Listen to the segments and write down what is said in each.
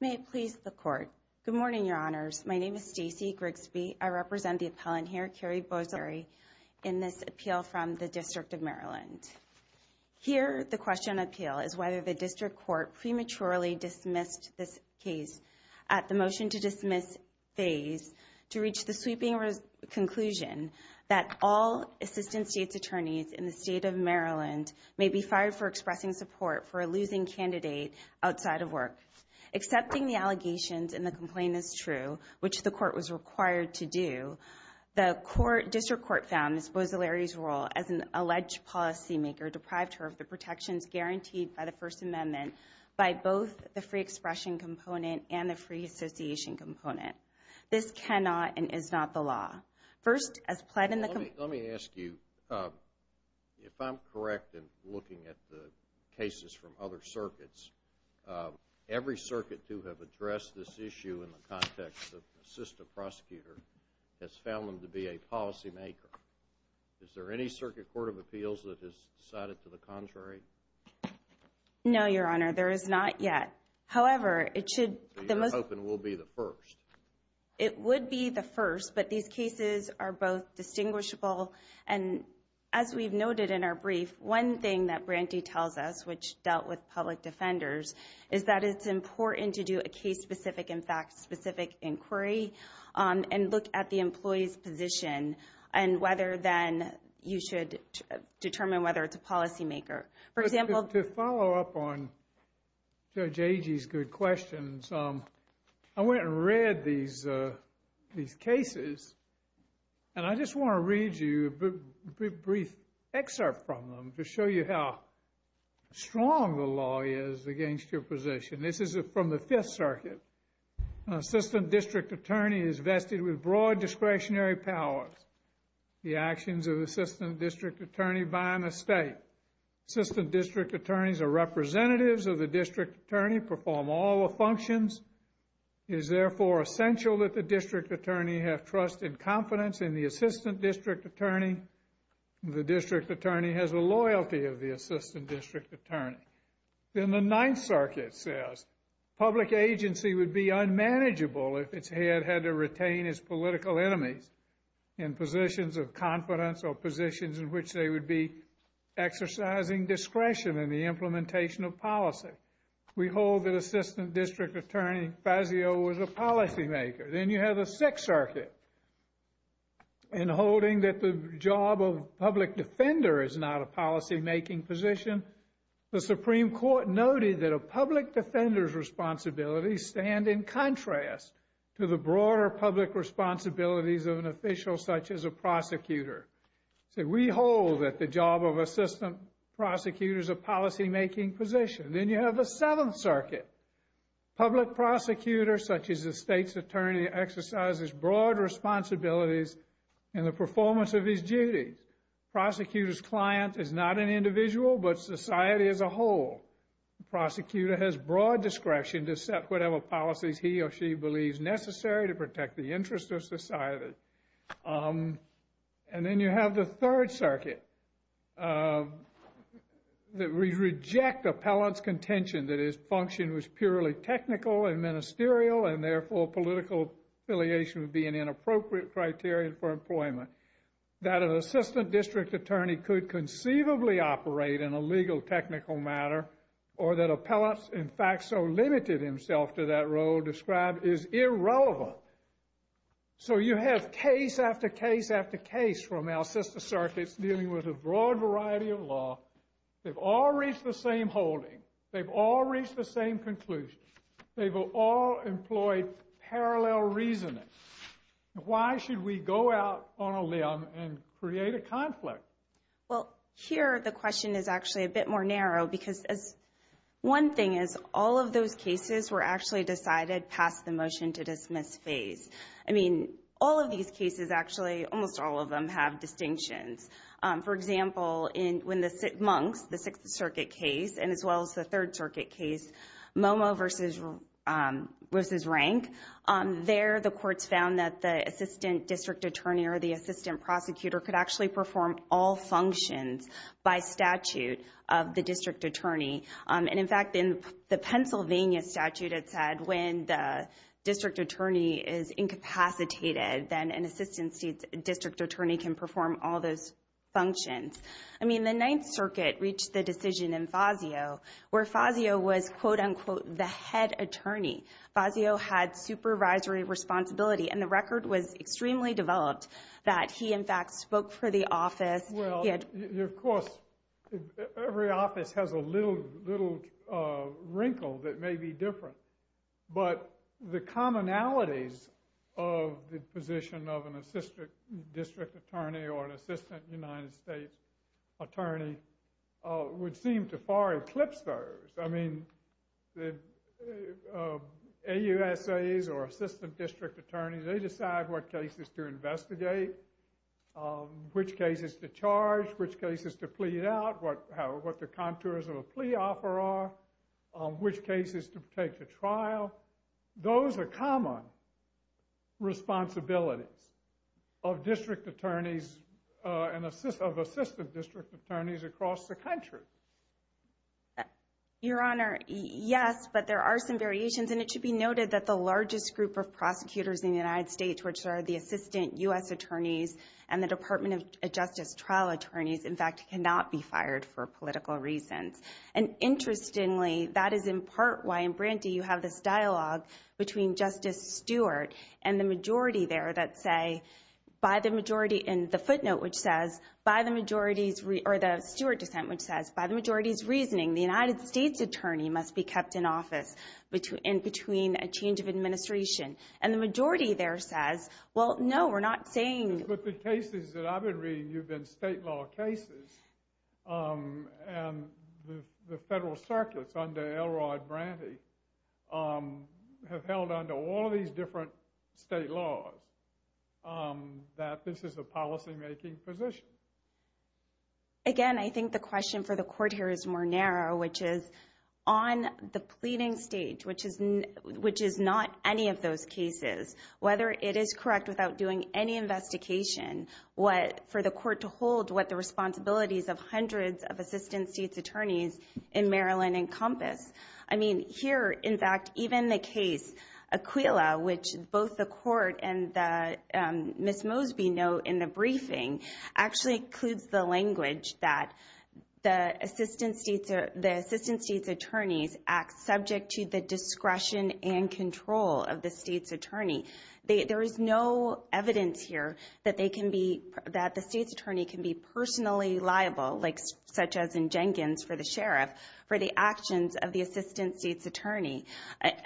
May it please the Court. Good morning, Your Honors. My name is Stacey Grigsby. I represent the appellant here, Keri Borzilleri, in this appeal from the District of Maryland. Here, the question on the appeal is whether the District Court prematurely dismissed this case at the motion to dismiss phase to reach the sweeping conclusion that all Assistant States Attorneys in the State of Maryland may be fired for expressing support for a choosing candidate outside of work. Accepting the allegations in the complaint as true, which the Court was required to do, the District Court found Ms. Borzilleri's role as an alleged policymaker deprived her of the protections guaranteed by the First Amendment by both the free expression component and the free association component. This cannot and is not the law. First, as pled in the complaint... Let me ask you, if I'm correct in looking at the cases from other circuits, every circuit to have addressed this issue in the context of assistant prosecutor has found them to be a policymaker. Is there any circuit court of appeals that has decided to the contrary? No, Your Honor, there is not yet. However, it should... So you're hoping will be the first? It would be the first, but these cases are both distinguishable. And as we've noted in our brief, one thing that Branty tells us which dealt with public defenders is that it's important to do a case-specific and fact-specific inquiry and look at the employee's position and whether then you should determine whether it's a policymaker. For example... To follow up on Judge Agee's good questions, I went and read these cases, and I just want to read you a brief excerpt from them to show you how strong the law is against your position. This is from the Fifth Circuit. An assistant district attorney is vested with broad discretionary powers. The actions of an assistant district attorney by an estate. Assistant district attorneys are representatives of the district attorney, perform all the functions. It is therefore essential that the district attorney have trust and confidence in the assistant district attorney. The district attorney has a loyalty of the assistant district attorney. Then the Ninth Circuit says public agency would be unmanageable if its head had to retain its political enemies in positions of confidence or positions in which they would be exercising discretion in the implementation of policy. We hold that assistant district attorney Fazio was a policymaker. Then you have the Sixth Circuit in holding that the job of public defender is not a policymaking position. The Supreme Court noted that a public defender's responsibilities stand in contrast to the public defender's. We hold that the job of assistant prosecutor is a policymaking position. Then you have the Seventh Circuit. Public prosecutor such as the state's attorney exercises broad responsibilities in the performance of his duties. Prosecutor's client is not an individual but society as a whole. The prosecutor has broad discretion to set whatever policies he or she believes necessary to protect the interests of society. And then you have the Third Circuit that we reject appellant's contention that his function was purely technical and ministerial and therefore political affiliation would be an inappropriate criteria for employment. That an assistant district attorney could conceivably operate in a legal technical matter or that appellant's, in fact, so limited himself to that role described is irrelevant. So you have case after case after case from our sister circuits dealing with a broad variety of law. They've all reached the same holding. They've all reached the same conclusion. They've all employed parallel reasoning. Why should we go out on a limb and create a conflict? Well, here the question is actually a bit more narrow because one thing is all of those cases were actually decided past the motion to dismiss phase. I mean, all of these cases actually, almost all of them have distinctions. For example, when the Monks, the Sixth Circuit case and as well as the Third Circuit case, Momo versus Rank, there the courts found that the assistant district attorney or the assistant prosecutor could actually perform all functions by statute of the district attorney. And in fact, in the Pennsylvania statute, it said when the district attorney is incapacitated, then an assistant district attorney can perform all those functions. I mean, the Ninth Circuit reached the decision in Fazio where Fazio was quote unquote the head attorney. Fazio had supervisory responsibility and the record was extremely developed that he in fact spoke for the office. Well, of course, every office has a little wrinkle that may be different. But the commonalities of the position of an assistant district attorney or an assistant United States attorney would seem to far eclipse those. I mean, the AUSAs or assistant district attorneys, they decide what cases to investigate, which cases to charge, which cases to plead out, what the contours of a plea offer are, which cases to take to trial. Those are common responsibilities of district attorneys and of assistant district attorneys across the country. Your Honor, yes, but there are some variations and it should be noted that the largest group of prosecutors in the United States, which are the assistant U.S. attorneys and the Department of Justice trial attorneys, in fact, cannot be fired for political reasons. And interestingly, that is in part why in Brandy you have this dialogue between Justice Stewart and the majority there that say, by the majority, in the footnote which says, by the majority's, or the Stewart dissent which says, by the majority's reasoning, the United States attorney must be kept in office in between a change of administration. And the majority there says, well, no, we're not saying. But the cases that I've been reading, you've been state law cases and the federal circuits under L. Rod Brandy have held under all of these different state laws that this is a policymaking position. Again, I think the question for the court here is more narrow, which is on the pleading stage, which is not any of those cases, whether it is correct without doing any investigation for the court to hold what the responsibilities of hundreds of assistant state's attorneys in Maryland encompass. I mean, here, in fact, even the case Aquila, which both the court and Ms. Mosby note in the briefing, actually includes the language that the assistant state's attorneys act subject to the discretion and control of the state's attorney. There is no evidence here that they are subject to discretion. I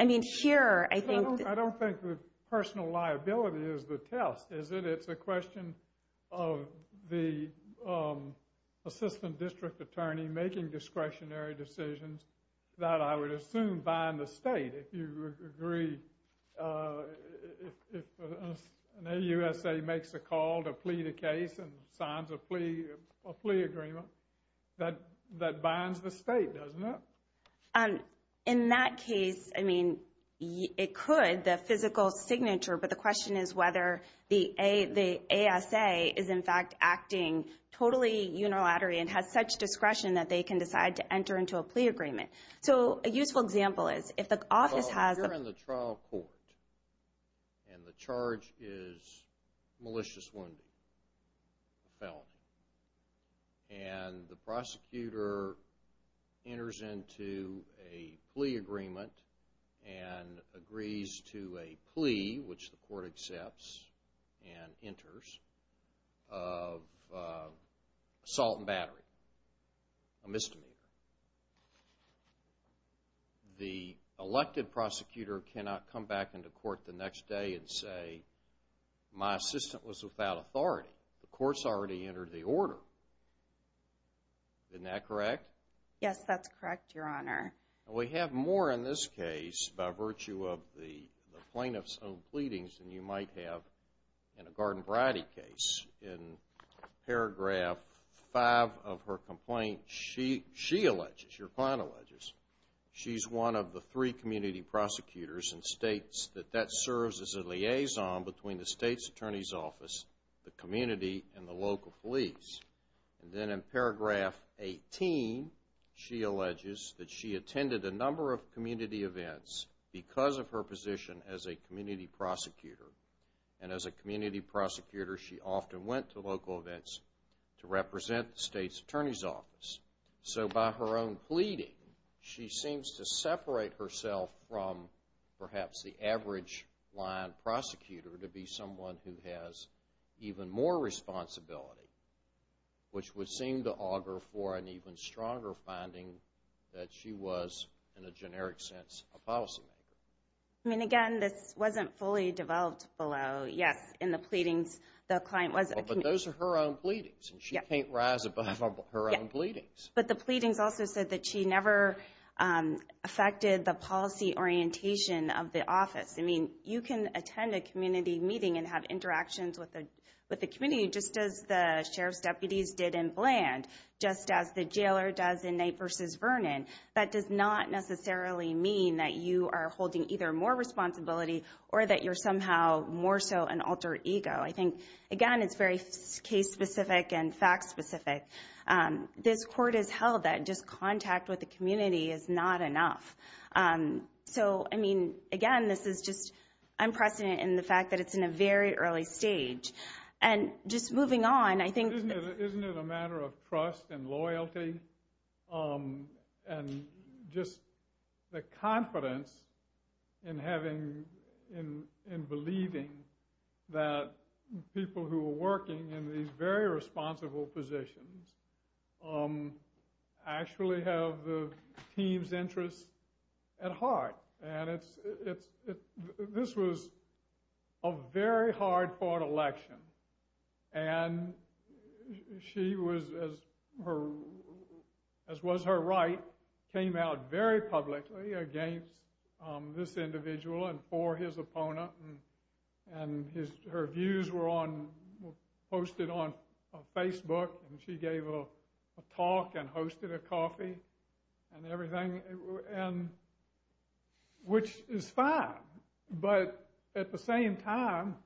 mean, here, I don't think the personal liability is the test, is it? It's a question of the assistant district attorney making discretionary decisions that I would assume bind the state. If you agree, if an AUSA makes a call to plead a case and signs a plea agreement that binds the state, doesn't it? In that case, I mean, it could, the physical signature, but the question is whether the ASA is, in fact, acting totally unilaterally and has such discretion that they can decide to enter into a plea agreement. So a useful example is if the office has a... Well, you're in the trial court and the charge is malicious wounding, a felony, and the prosecutor enters into a plea agreement and agrees to a plea, which the court accepts and enters, of assault and battery, a misdemeanor. The elected prosecutor cannot come back into court the next day and say, my assistant was without authority. The court's already entered the order. Isn't that correct? Yes, that's correct, Your Honor. We have more in this case by virtue of the plaintiff's own pleadings than you might have in a Garden Variety case. In paragraph 5 of her complaint, she alleges, your client alleges, she's one of the three community prosecutors and states that that serves as a liaison between the state's attorney's office, the community, and the local police. Then in paragraph 18, she alleges that she attended a number of community events because of her position as a community prosecutor. And as a community prosecutor, she often went to local events to represent the state's attorney's office. So by her own pleading, she seems to separate herself from perhaps the average line prosecutor to be someone who has even more responsibility, which would seem to augur for an even stronger finding that she was in a generic sense, a policymaker. I mean, again, this wasn't fully developed below. Yes, in the pleadings, the client was a community... But those are her own pleadings, and she can't rise above her own pleadings. But the pleadings also said that she never affected the policy orientation of the office. I mean, you can attend a community meeting and have interactions with the community just as the sheriff's deputies did in Bland, just as the jailer does in Knight v. Vernon. That does not necessarily mean that you are holding either more responsibility or that you're somehow more so an alter ego. I think, again, it's very case-specific and fact-specific. This court has held that just contact with the community is not enough. So, I mean, again, this is just unprecedented in the fact that it's in a very early stage. And just moving on, I think... Isn't it a matter of trust and loyalty and just the confidence in believing that people who are working in these very responsible positions actually have the team's interests at heart? And this was a very hard-fought election. And she was, as was her right, came out very publicly against this individual and for his opponent. And her views were on Facebook and she gave a talk and hosted a coffee and everything, which is fine. But at the same time,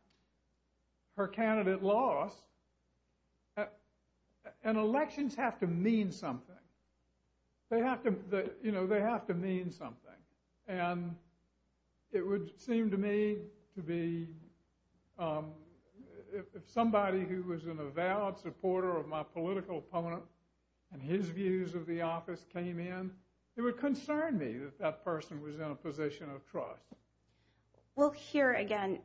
her candidate lost. And elections have to mean something. They have to mean something. And it would seem to me to be, if something were to happen, it would be somebody who was an avowed supporter of my political opponent, and his views of the office came in, it would concern me that that person was in a position of trust. Well, here, again,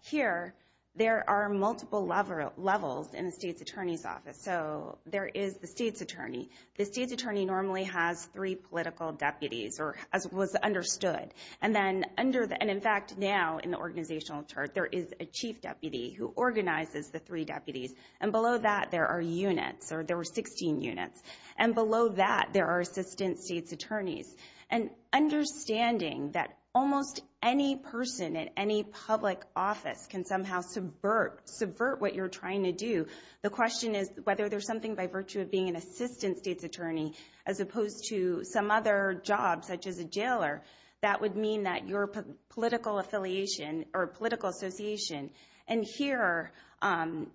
here, there are multiple levels in a state's attorney's office. So, there is the state's attorney. The state's attorney normally has three political deputies, as was understood. And in fact, now, in the organizational chart, there is a chief deputy who organizes the three deputies. And below that, there are units, or there were 16 units. And below that, there are assistant state's attorneys. And understanding that almost any person at any public office can somehow subvert what you're trying to do, the question is whether there's something by virtue of being an assistant state's attorney, as opposed to some other job, such as a jailer, that would mean that your political affiliation or political association. And here,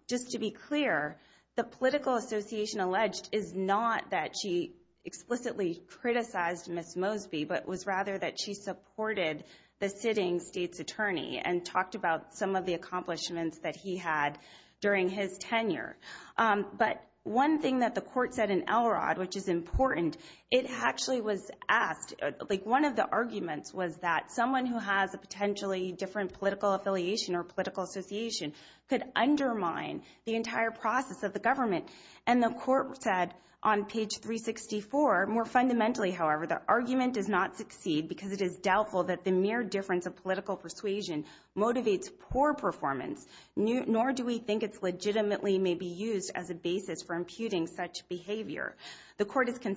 just to be clear, the political association alleged is not that she explicitly criticized Ms. Mosby, but was rather that she supported the sitting state's attorney and talked about some of the accomplishments that he had during his tenure. But one thing that the court said in Elrod, which is important, it actually was asked, like one of the arguments was that someone who has a potentially different political affiliation or political association could undermine the entire process of the government. And the court said on page 364, more fundamentally, however, the argument does not succeed because it is doubtful that the mere difference of political persuasion motivates poor performance, nor do we think it's legitimately may be used as a basis for imputing such behavior. The political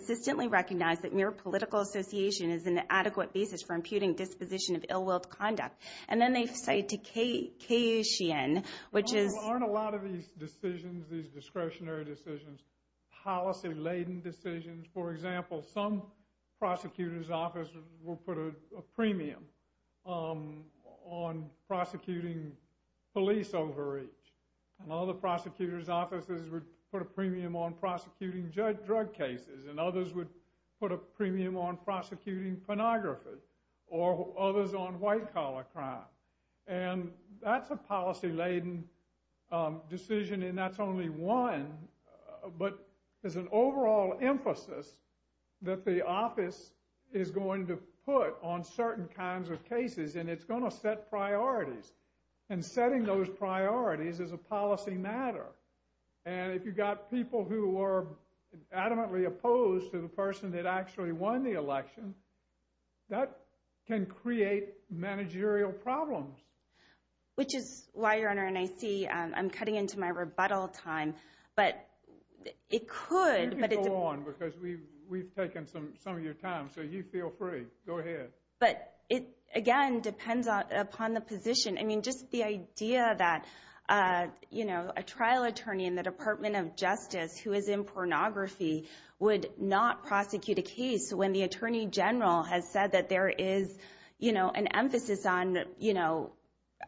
association is an adequate basis for imputing disposition of ill-willed conduct. And then they say to K.U. Sheehan, which is... Aren't a lot of these decisions, these discretionary decisions, policy-laden decisions? For example, some prosecutor's offices will put a premium on prosecuting police overreach. And other prosecutor's offices would put a premium on prosecuting judge drug cases. And others would put a premium on prosecuting pornography. Or others on white-collar crime. And that's a policy-laden decision, and that's only one. But there's an overall emphasis that the office is going to put on certain kinds of cases, and it's going to set priorities. And setting those priorities is a policy matter. And if you've got people who are adamantly opposed to the person that actually won the election, that can create managerial problems. Which is why, Your Honor, and I see I'm cutting into my rebuttal time, but it could... You can go on, because we've taken some of your time, so you feel free. Go ahead. But it, again, depends upon the position. I mean, just the idea that a trial attorney in the Department of Justice who is in pornography would not prosecute a case when the attorney general has said that there is an emphasis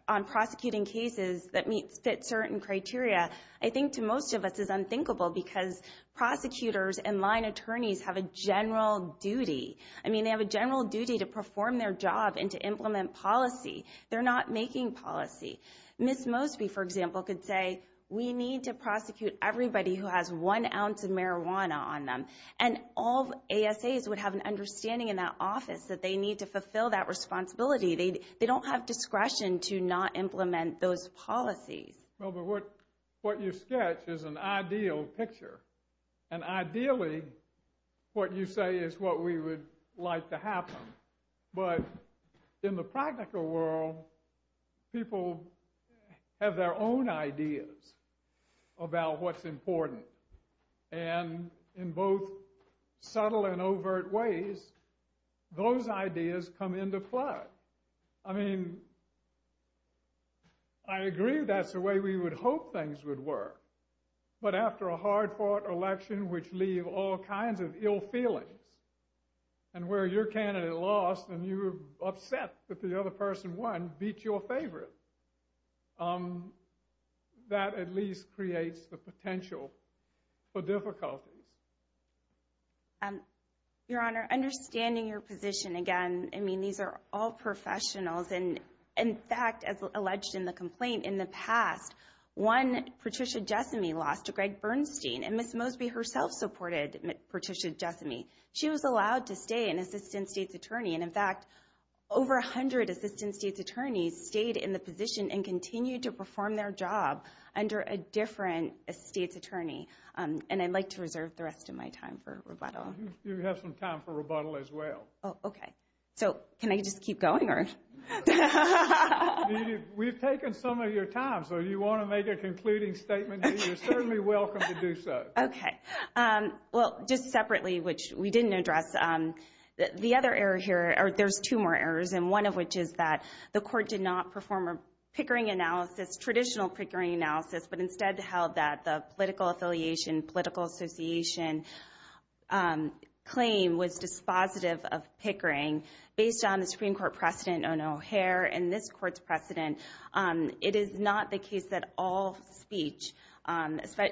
on prosecuting cases that meet certain criteria, I think to most of us is unthinkable, because prosecutors and line attorneys have a general duty. I mean, they have a general duty to perform their job and to implement policy. They're not making policy. Ms. Mosby, for example, could say, we need to prosecute everybody who has one ounce of marijuana on them. And all ASAs would have an understanding in that office that they need to fulfill that responsibility. They don't have discretion to not implement those policies. Well, but what you sketch is an ideal picture. And ideally, what you say is what we would like to happen. But in the practical world, people have their own ideas about what's important. And in both subtle and overt ways, those ideas come into play. I mean, I agree that's the way we would hope things would work. But after a hard-fought election, which leaves all kinds of ill feelings, and where your candidate lost and you were upset that the other person won, beat your favorite, that at least creates the potential for difficulties. Your Honor, understanding your position, again, I mean, these are all professionals. And in fact, as alleged in the complaint in the past, one, Patricia Jessame, lost to Greg Bernstein. And Ms. Mosby herself supported Patricia Jessame. She was allowed to stay an Assistant State's Attorney. And in fact, over 100 Assistant State's Attorneys stayed in the position and continued to perform their job under a different State's Attorney. And I'd like to reserve the rest of my time for rebuttal. You have some time for rebuttal as well. Oh, okay. So can I just keep going, or? We've taken some of your time. So if you want to make a concluding statement, you're certainly welcome to do so. Okay. Well, just separately, which we didn't address, the other error here, or there's two more errors, and one of which is that the Court did not perform a Pickering analysis, traditional Pickering analysis, but instead held that the political affiliation, political association claim was dispositive of Pickering. Based on the Supreme Court precedent on O'Hare and this Court's precedent, it is not the case that all speech,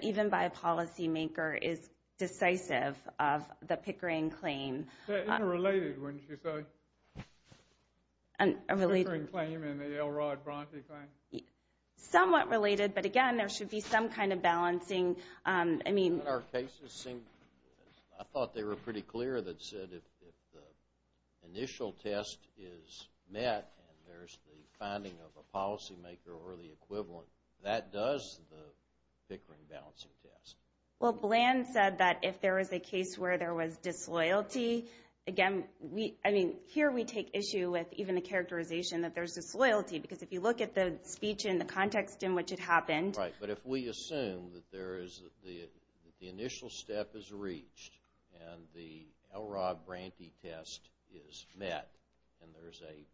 even by a policymaker, is decisive of the Pickering claim. They're interrelated, wouldn't you say, the Pickering claim and the L. Rod Bronte claim? Somewhat related, but again, there should be some kind of balancing, I mean... Well, in our cases, I thought they were pretty clear that said if the initial test is met and there's the finding of a policymaker or the equivalent, that does the Pickering balancing test. Well, Bland said that if there is a case where there was disloyalty, again, I mean, here we take issue with even the characterization that there's disloyalty, because if you look at the speech and the context in which it happened... If the initial step is reached and the L. Rod Bronte test is met and there's a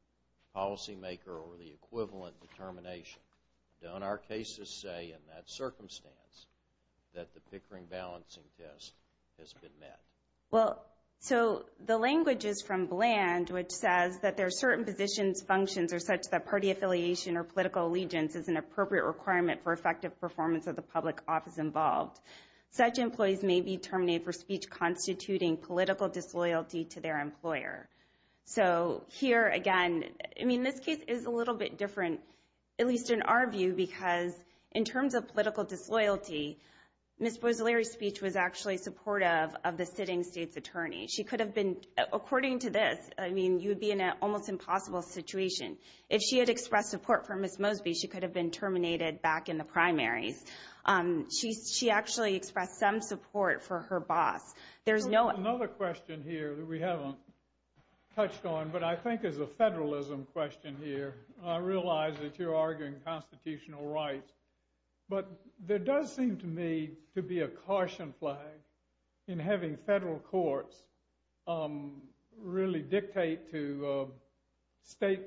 policymaker or the equivalent determination, don't our cases say in that circumstance that the Pickering balancing test has been met? Well, so the language is from Bland, which says that there are certain positions, functions are such that party affiliation or political allegiance is an appropriate requirement for effective performance of the public office involved. Such employees may be terminated for speech constituting political disloyalty to their employer. So here, again, I mean, this case is a little bit different, at least in our view, because in terms of political disloyalty, Ms. Bozzoleri's speech was actually supportive of the sitting state's attorney. She could have been... According to this, I mean, you'd be in an almost impossible situation. If she had expressed support for Ms. Mosby, she could have been terminated back in the primaries. She actually expressed some support for her boss. There's no... Another question here that we haven't touched on, but I think is a federalism question here. I realize that you're arguing constitutional rights, but there does seem to me to be a caution flag in having federal courts really dictate to state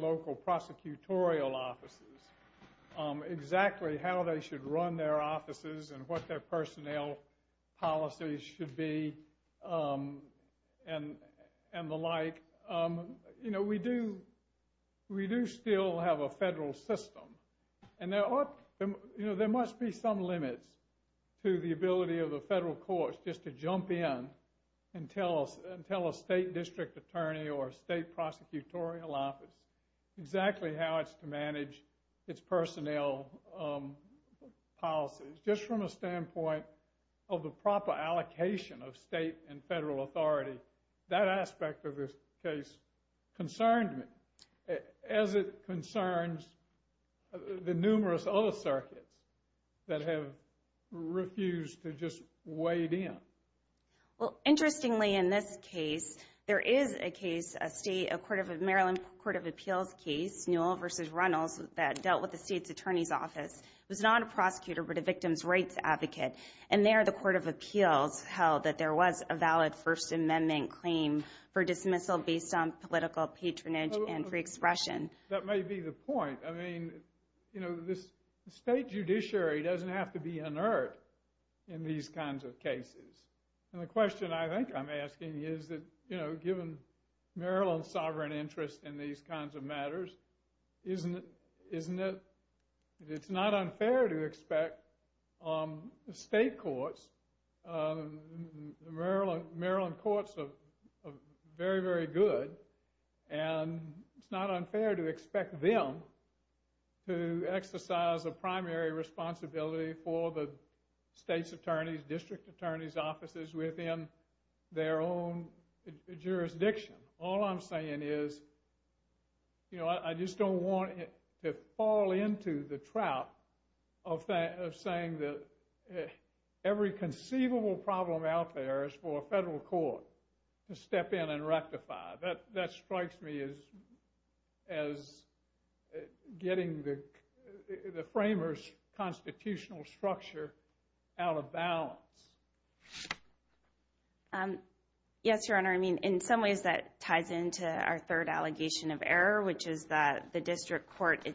local prosecutorial offices exactly how they should run their offices and what their personnel policies should be and the like. You know, we do still have a federal system, and there must be some limits to the ability of the federal courts just to jump in and tell a state district attorney or state prosecutorial office exactly how it's to manage its personnel policies. Just from a standpoint of the proper allocation of state and federal authority, that aspect of this case concerned me as it concerns the numerous other circuits that have refused to just wade in. Well, interestingly, in this case, there is a case, a state, a Maryland Court of Appeals case, Newell v. Reynolds, that dealt with the state's attorney's office. It was not a prosecutor, but a victims' rights advocate. And there, the Court of Appeals held that there was a valid First Amendment claim for dismissal based on political patronage and free expression. That may be the point. I mean, you know, the state judiciary doesn't have to be inert in these kinds of cases. And the question I think I'm asking is that, you know, given Maryland's sovereign interest in these kinds of matters, isn't it, it's not unfair to expect state courts, Maryland courts are very, very good, and it's not unfair to expect them to exercise a primary responsibility for the state's attorneys, district attorneys' offices within their own jurisdiction. All I'm saying is, you know, I just don't want to fall into the trap of saying that every conceivable problem out there is for a federal court to step in and rectify. That strikes me as getting the framers' constitutional structure out of balance. Yes, Your Honor. I mean, in some ways that ties into our third allegation of error, which is that the district court was in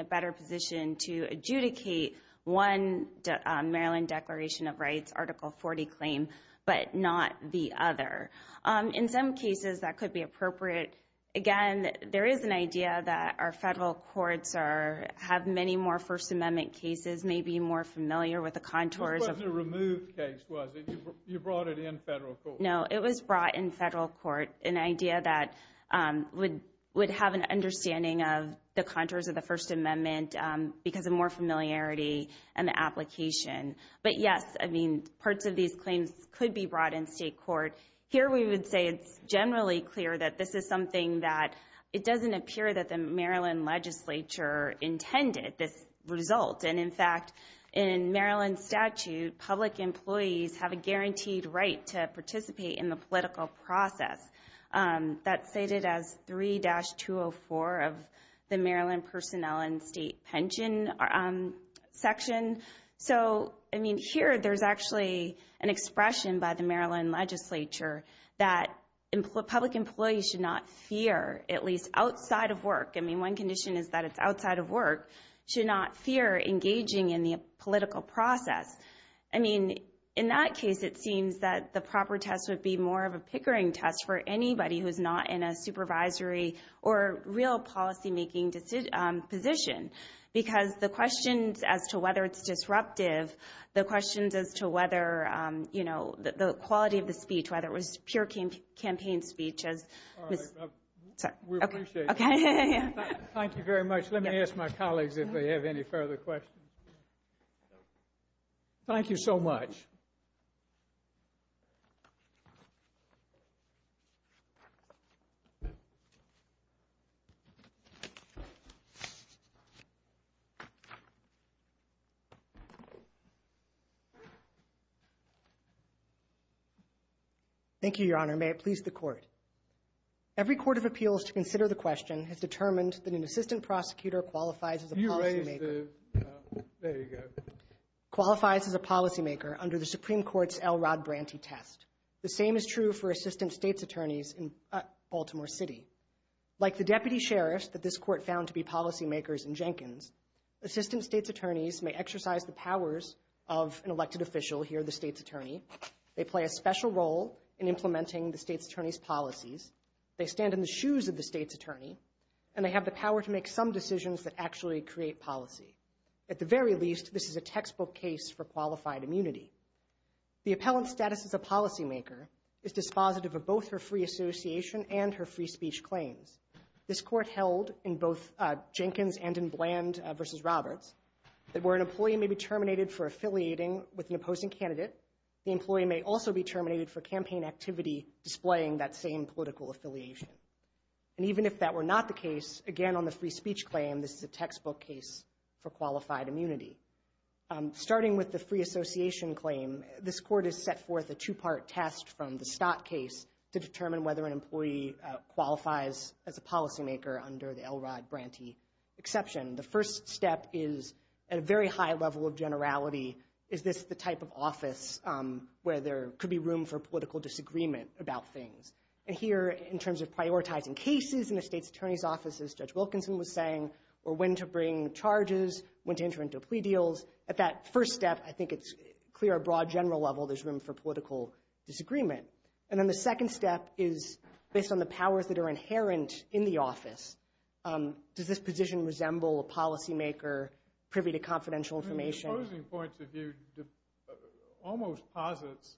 a better position to adjudicate one Maryland Declaration of Rights, Article 40 claim, but not the other. In some cases, that could be appropriate. Again, there is an idea that our federal courts have many more First Amendment cases, may be more familiar with the contours of— This wasn't a removed case, was it? You brought it in federal court. No, it was brought in federal court, an idea that would have an understanding of the contours of the First Amendment because of more familiarity and the application, but yes, I mean, parts of these claims could be brought in state court. Here we would say it's generally clear that this is something that—it doesn't appear that the Maryland legislature intended this result, and in fact, in Maryland statute, public employees have a guaranteed right to participate in the political process. That's stated as 3-204 of the Maryland Personnel and State Pension section. So I mean, here there's actually an expression by the Maryland legislature that public employees should not fear, at least outside of work. I mean, one condition is that it's outside of work, should not fear engaging in the political process. I mean, in that case, it seems that the proper test would be more of a pickering test for anybody who's not in a supervisory or real policymaking position because the questions as to whether it's disruptive, the questions as to whether, you know, the quality of the speech, whether it was pure campaign speech as— All right. We appreciate it. Okay. Thank you very much. Let me ask my colleagues if they have any further questions. Thank you so much. Thank you, Your Honor. May it please the Court. Every court of appeals to consider the question has determined that an assistant prosecutor qualifies as a policymaker. There you go. Qualifies as a policymaker under the Supreme Court's L. Rod Branty test. The same is true for assistant state's attorneys in Baltimore City. Like the deputy sheriff that this Court found to be policymakers in Jenkins, assistant state's attorneys may exercise the powers of an elected official here, the state's attorney. They play a special role in implementing the state's attorney's policies. They stand in the shoes of the state's attorney, and they have the power to make some decisions that actually create policy. At the very least, this is a textbook case for qualified immunity. The appellant's status as a policymaker is dispositive of both her free association and her free speech claims. This Court held in both Jenkins and in Bland v. Roberts that where an employee may be terminated for affiliating with an opposing candidate, the employee may also be terminated for campaign activity displaying that same political affiliation. And even if that were not the case, again on the free speech claim, this is a textbook case for qualified immunity. Starting with the free association claim, this Court has set forth a two-part test from the Stott case to determine whether an employee qualifies as a policymaker under the L. Rod Branty exception. The first step is, at a very high level of generality, is this the type of office where there could be room for political disagreement about things? And here, in terms of prioritizing cases in a state's attorney's office, as Judge Wilkinson was saying, or when to bring charges, when to enter into plea deals, at that first step, I think it's clear at a broad general level there's room for political disagreement. And then the second step is, based on the powers that are inherent in the office, does this position resemble a policymaker privy to confidential information? From my opposing point of view, it almost posits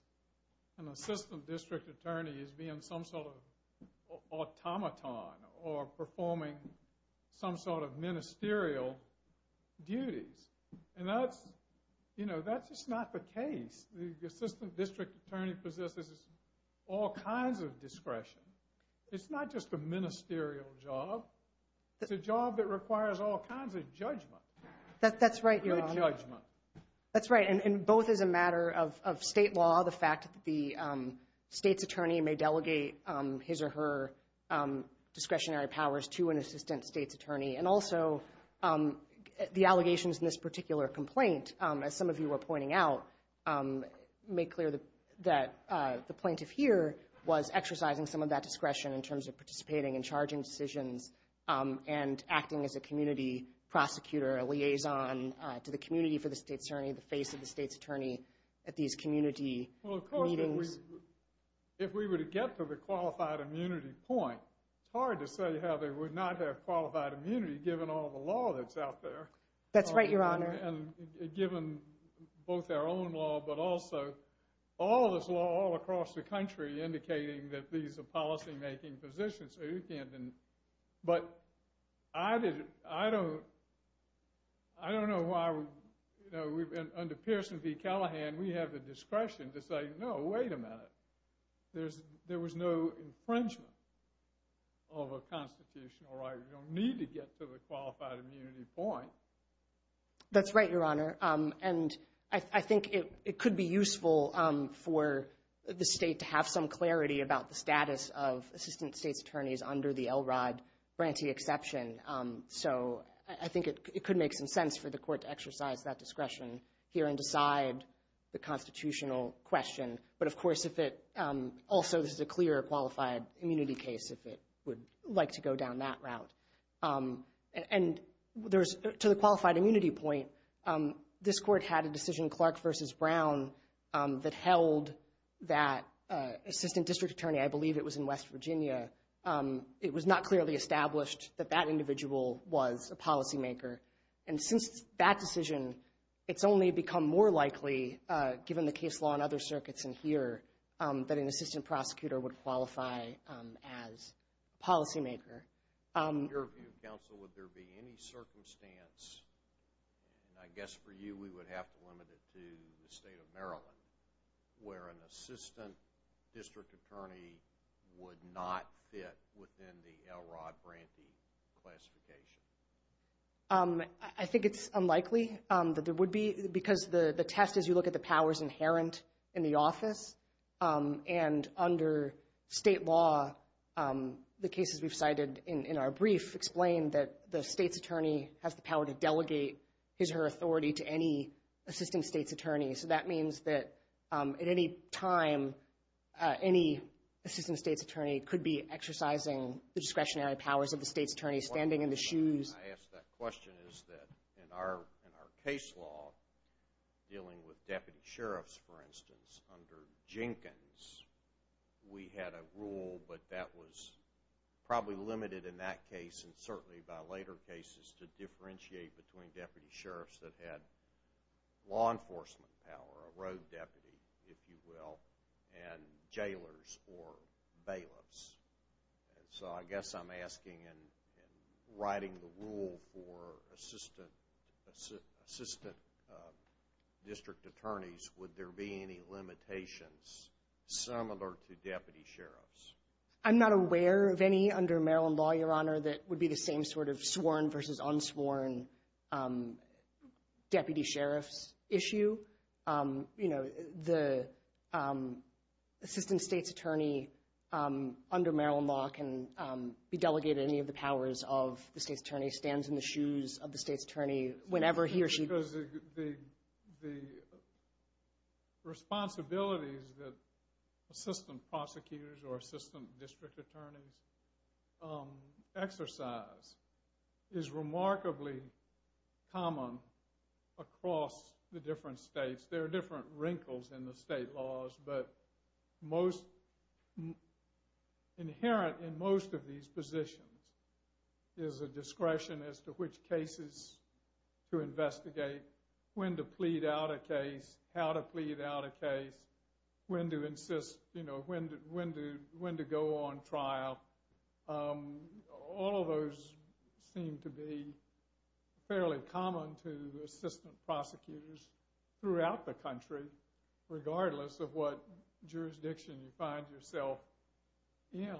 an assistant district attorney as being some sort of automaton or performing some sort of ministerial duties. And that's, you know, that's just not the case. The assistant district attorney possesses all kinds of discretion. It's not just a ministerial job, it's a job that requires all kinds of judgment. That's right, your honor. Judgment. That's right. And both as a matter of state law, the fact that the state's attorney may delegate his or her discretionary powers to an assistant state's attorney, and also the allegations in this particular complaint, as some of you were pointing out, make clear that the plaintiff here was exercising some of that discretion in terms of participating in charging decisions and acting as a community prosecutor, a liaison to the community for the state's attorney, the face of the state's attorney at these community meetings. Well, of course, if we were to get to the qualified immunity point, it's hard to say how they would not have qualified immunity given all the law that's out there. That's right, your honor. And given both their own law, but also all this law all across the country indicating that these are policy-making positions, but I don't know why, under Pearson v. Callahan, we have the discretion to say, no, wait a minute. There was no infringement of a constitutional right. We don't need to get to the qualified immunity point. That's right, your honor, and I think it could be useful for the state to have some clarity about the status of assistant state's attorneys under the LROD grantee exception. So I think it could make some sense for the court to exercise that discretion here and decide the constitutional question. But of course, if it also, this is a clear qualified immunity case, if it would like to go down that route. And to the qualified immunity point, this court had a decision, Clark v. Brown, that that assistant district attorney, I believe it was in West Virginia, it was not clearly established that that individual was a policymaker. And since that decision, it's only become more likely, given the case law and other circuits in here, that an assistant prosecutor would qualify as a policymaker. In your view, counsel, would there be any circumstance, and I guess for you, we would have to limit it to the state of Maryland, where an assistant district attorney would not fit within the LROD grantee classification? I think it's unlikely that there would be, because the test, as you look at the powers inherent in the office, and under state law, the cases we've cited in our brief explain that the state's attorney has the power to delegate his or her authority to any assistant state's attorney. So that means that at any time, any assistant state's attorney could be exercising the discretionary powers of the state's attorney, standing in the shoes. I ask that question, is that in our case law, dealing with deputy sheriffs, for instance, under Jenkins, we had a rule, but that was probably limited in that case, and certainly by later cases, to differentiate between deputy sheriffs that had law enforcement power, a road deputy, if you will, and jailers or bailiffs. So I guess I'm asking, and writing the rule for assistant district attorneys, would there be any limitations similar to deputy sheriffs? I'm not aware of any under Maryland law, Your Honor, that would be the same sort of sworn versus unsworn deputy sheriff's issue. You know, the assistant state's attorney under Maryland law can be delegated any of the powers of the state's attorney, stands in the shoes of the state's attorney whenever he or she Because the responsibilities that assistant prosecutors or assistant district attorneys exercise is remarkably common across the different states. There are different wrinkles in the state laws, but most, inherent in most of these positions is a discretion as to which cases to investigate, when to plead out a case, how to plead out a case, when to insist, you know, when to go on trial. All of those seem to be fairly common to assistant prosecutors throughout the country, regardless of what jurisdiction you find yourself in.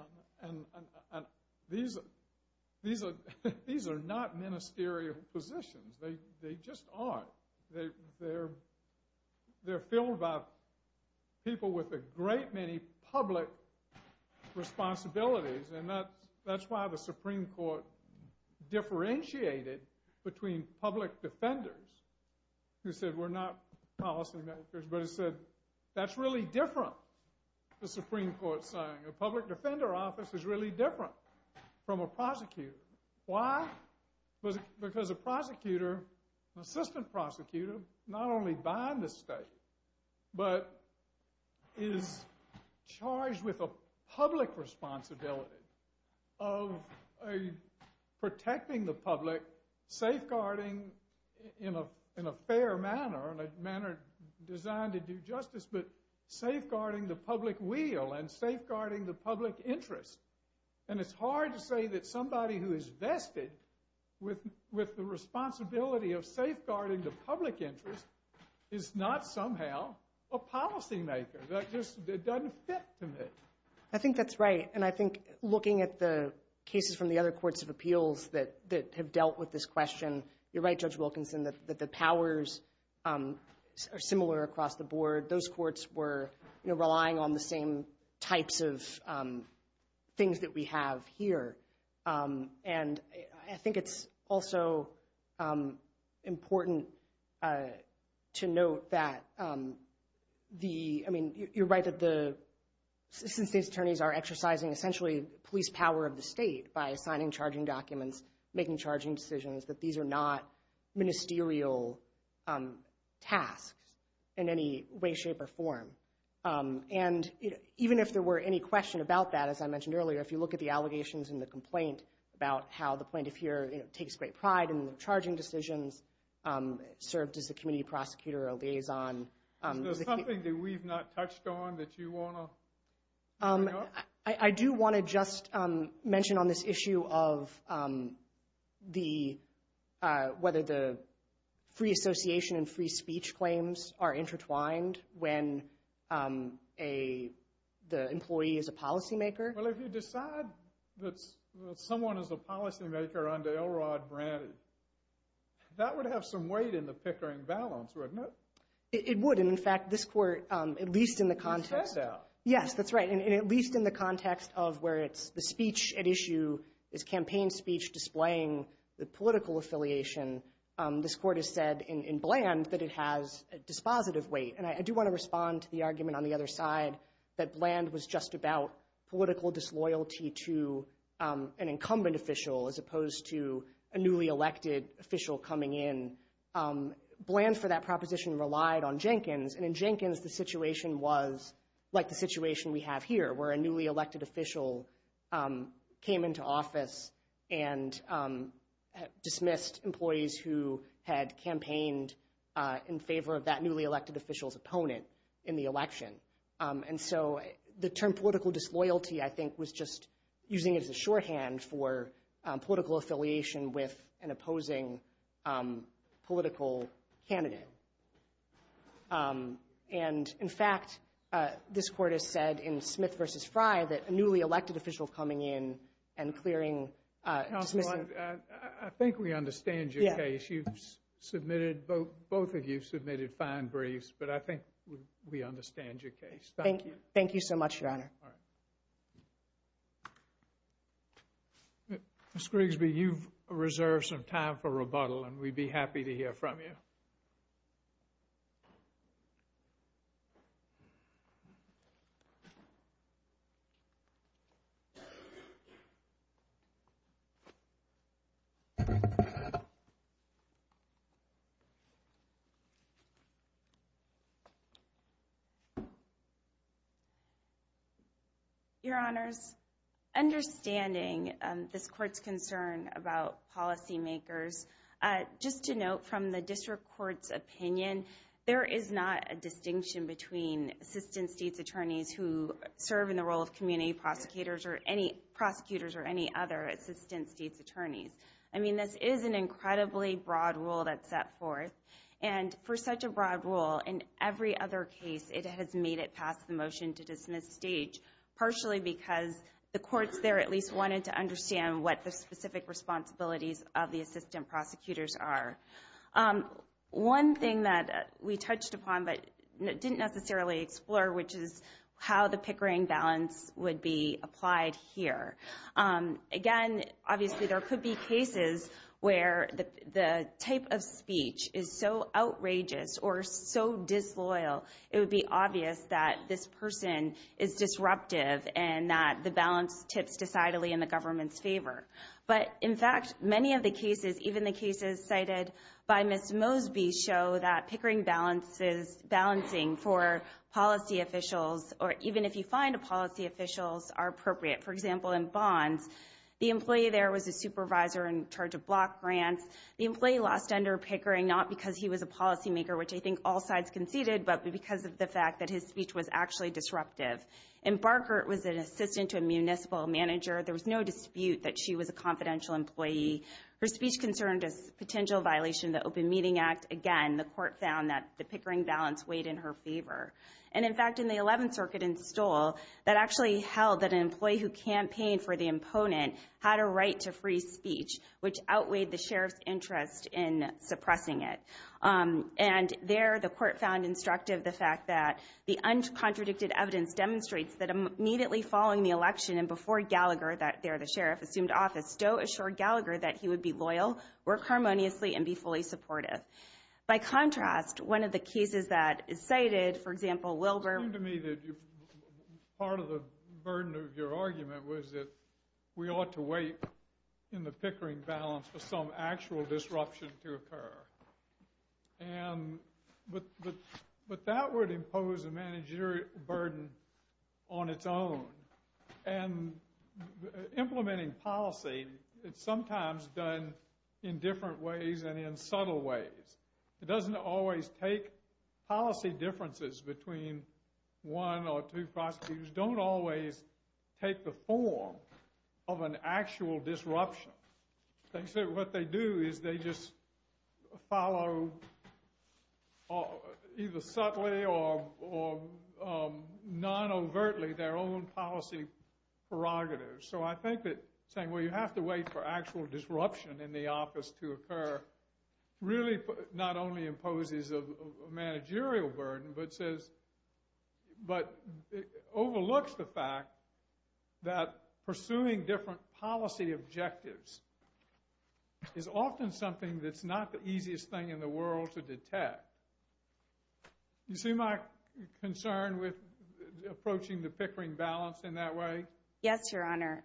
These are not ministerial positions. They just aren't. They're filled by people with a great many public responsibilities, and that's why the Supreme Court differentiated between public defenders, who said, we're not policy makers, but it said, that's really different, the Supreme Court saying. A public defender office is really different from a prosecutor. Why? Because a prosecutor, an assistant prosecutor, not only bind the state, but is charged with a public responsibility of protecting the public, safeguarding in a fair manner, in trying to do justice, but safeguarding the public wheel and safeguarding the public interest. And it's hard to say that somebody who is vested with the responsibility of safeguarding the public interest is not somehow a policy maker. That just doesn't fit to me. I think that's right, and I think looking at the cases from the other courts of appeals that have dealt with this question, you're right, Judge Wilkinson, that the powers are of the board, those courts were relying on the same types of things that we have here. And I think it's also important to note that the, I mean, you're right that the, since these attorneys are exercising essentially police power of the state by assigning charging a way, shape, or form. And even if there were any question about that, as I mentioned earlier, if you look at the allegations in the complaint about how the plaintiff here, you know, takes great pride in the charging decisions, served as a community prosecutor or a liaison. Is there something that we've not touched on that you want to bring up? I do want to just mention on this issue of the, whether the free association and free association is intertwined when the employee is a policy maker. Well, if you decide that someone is a policy maker under Elrod Brant, that would have some weight in the Pickering balance, wouldn't it? It would, and in fact, this court, at least in the context. You said that. Yes, that's right. And at least in the context of where it's the speech at issue is campaign speech displaying the political affiliation, this court has said in Bland that it has a dispositive weight. And I do want to respond to the argument on the other side that Bland was just about political disloyalty to an incumbent official as opposed to a newly elected official coming in. Bland for that proposition relied on Jenkins. And in Jenkins, the situation was like the situation we have here, where a newly elected official came into office and dismissed employees who had campaigned in favor of that newly elected official's opponent in the election. And so the term political disloyalty, I think, was just using it as a shorthand for political affiliation with an opposing political candidate. And in fact, this court has said in Smith v. Fry that a newly elected official coming in and clearing Councilwoman, I think we understand your case. You've submitted, both of you submitted fine briefs, but I think we understand your case. Thank you. Thank you so much, Your Honor. Ms. Grigsby, you've reserved some time for rebuttal, and we'd be happy to hear from you. Thank you. Your Honors, understanding this court's concern about policymakers, just to note from the There is not a distinction between assistant state's attorneys who serve in the role of community prosecutors or any other assistant state's attorneys. I mean, this is an incredibly broad rule that's set forth. And for such a broad rule, in every other case, it has made it past the motion to dismiss stage, partially because the courts there at least wanted to understand what the specific responsibilities of the assistant prosecutors are. One thing that we touched upon, but didn't necessarily explore, which is how the pickering balance would be applied here. Again, obviously, there could be cases where the type of speech is so outrageous or so disloyal, it would be obvious that this person is disruptive and that the balance tips decidedly in the government's favor. But, in fact, many of the cases, even the cases cited by Ms. Mosby, show that pickering balance is balancing for policy officials, or even if you find a policy officials are appropriate. For example, in Bonds, the employee there was a supervisor in charge of block grants. The employee lost under pickering, not because he was a policymaker, which I think all sides conceded, but because of the fact that his speech was actually disruptive. And Barkert was an assistant to a municipal manager. There was no dispute that she was a confidential employee. Her speech concerned a potential violation of the Open Meeting Act. Again, the court found that the pickering balance weighed in her favor. And, in fact, in the 11th Circuit in Stoll, that actually held that an employee who campaigned for the opponent had a right to free speech, which outweighed the sheriff's interest in suppressing it. And there, the court found instructive the fact that the uncontradicted evidence demonstrates that immediately following the election and before Gallagher, there the sheriff, assumed office, Stoll assured Gallagher that he would be loyal, work harmoniously, and be fully supportive. By contrast, one of the cases that is cited, for example, Wilbur. It seemed to me that part of the burden of your argument was that we ought to wait in the pickering balance for some actual disruption to occur. And, but that would impose a managerial burden on its own. And implementing policy, it's sometimes done in different ways and in subtle ways. It doesn't always take policy differences between one or two prosecutors. Don't always take the form of an actual disruption. They say what they do is they just follow either subtly or non-overtly their own policy prerogatives. So I think that saying, well, you have to wait for actual disruption in the office to occur really not only imposes a managerial burden, but says, but overlooks the fact that a managerial burden is often something that's not the easiest thing in the world to detect. You see my concern with approaching the pickering balance in that way? Yes, Your Honor.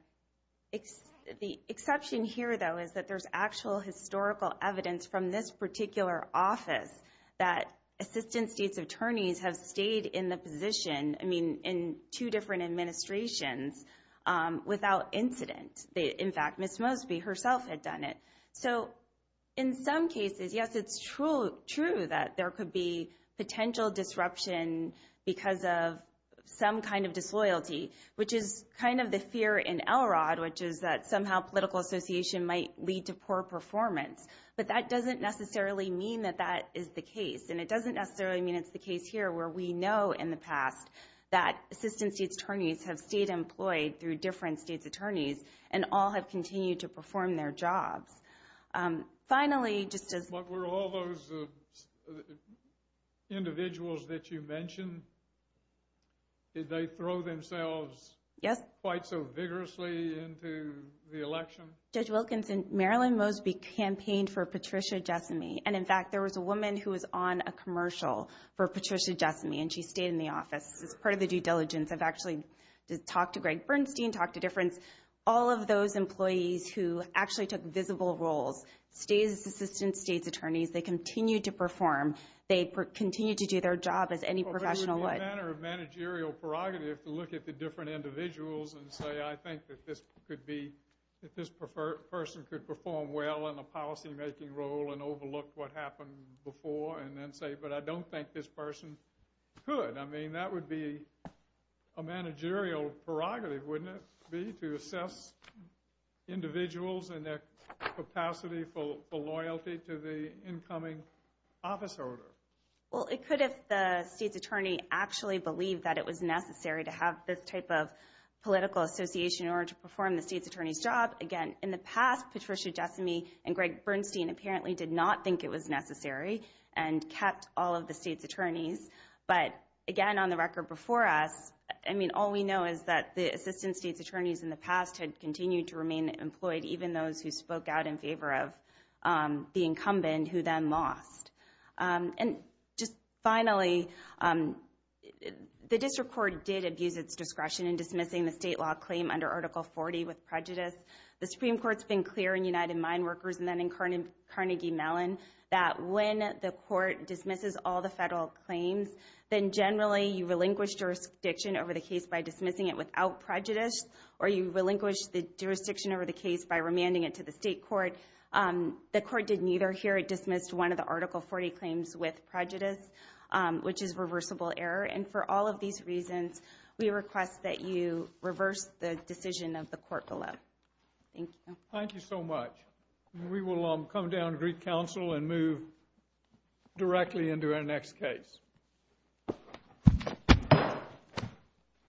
The exception here, though, is that there's actual historical evidence from this particular office that assistant state's attorneys have stayed in the position, I mean, in two different administrations without incident. In fact, Ms. Mosby herself had done it. So in some cases, yes, it's true that there could be potential disruption because of some kind of disloyalty, which is kind of the fear in Elrod, which is that somehow political association might lead to poor performance. But that doesn't necessarily mean that that is the case. And it doesn't necessarily mean it's the case here where we know in the past that assistant state's attorneys have stayed employed through different state's attorneys and all have continued to perform their jobs. Finally, just as... What were all those individuals that you mentioned? Did they throw themselves... Yes. ...quite so vigorously into the election? Judge Wilkinson, Marilyn Mosby campaigned for Patricia Jessame. And in fact, there was a woman who was on a commercial for Patricia Jessame, and she stayed in the office as part of the due diligence. I've actually talked to Greg Bernstein, talked to Difference. All of those employees who actually took visible roles, state's assistants, state's attorneys, they continue to perform. They continue to do their job as any professional would. But it would be a matter of managerial prerogative to look at the different individuals and say, I think that this person could perform well in a policymaking role and overlook what happened before and then say, but I don't think this person could. I mean, that would be a managerial prerogative, wouldn't it be, to assess individuals and their capacity for loyalty to the incoming office order? Well, it could if the state's attorney actually believed that it was necessary to have this type of political association in order to perform the state's attorney's job. Again, in the past, Patricia Jessame and Greg Bernstein apparently did not think it was necessary and kept all of the state's attorneys. But again, on the record before us, I mean, all we know is that the assistant state's attorneys in the past had continued to remain employed, even those who spoke out in favor of the incumbent who then lost. And just finally, the district court did abuse its discretion in dismissing the state law claim under Article 40 with prejudice. The Supreme Court's been clear in United Mine Workers and then in Carnegie Mellon that when the court dismisses all the federal claims, then generally you relinquish jurisdiction over the case by dismissing it without prejudice, or you relinquish the jurisdiction over the case by remanding it to the state court. The court did neither here. It dismissed one of the Article 40 claims with prejudice, which is reversible error. And for all of these reasons, we request that you reverse the decision of the court below. Thank you. Thank you so much. We will come down to Greek Council and move directly into our next case.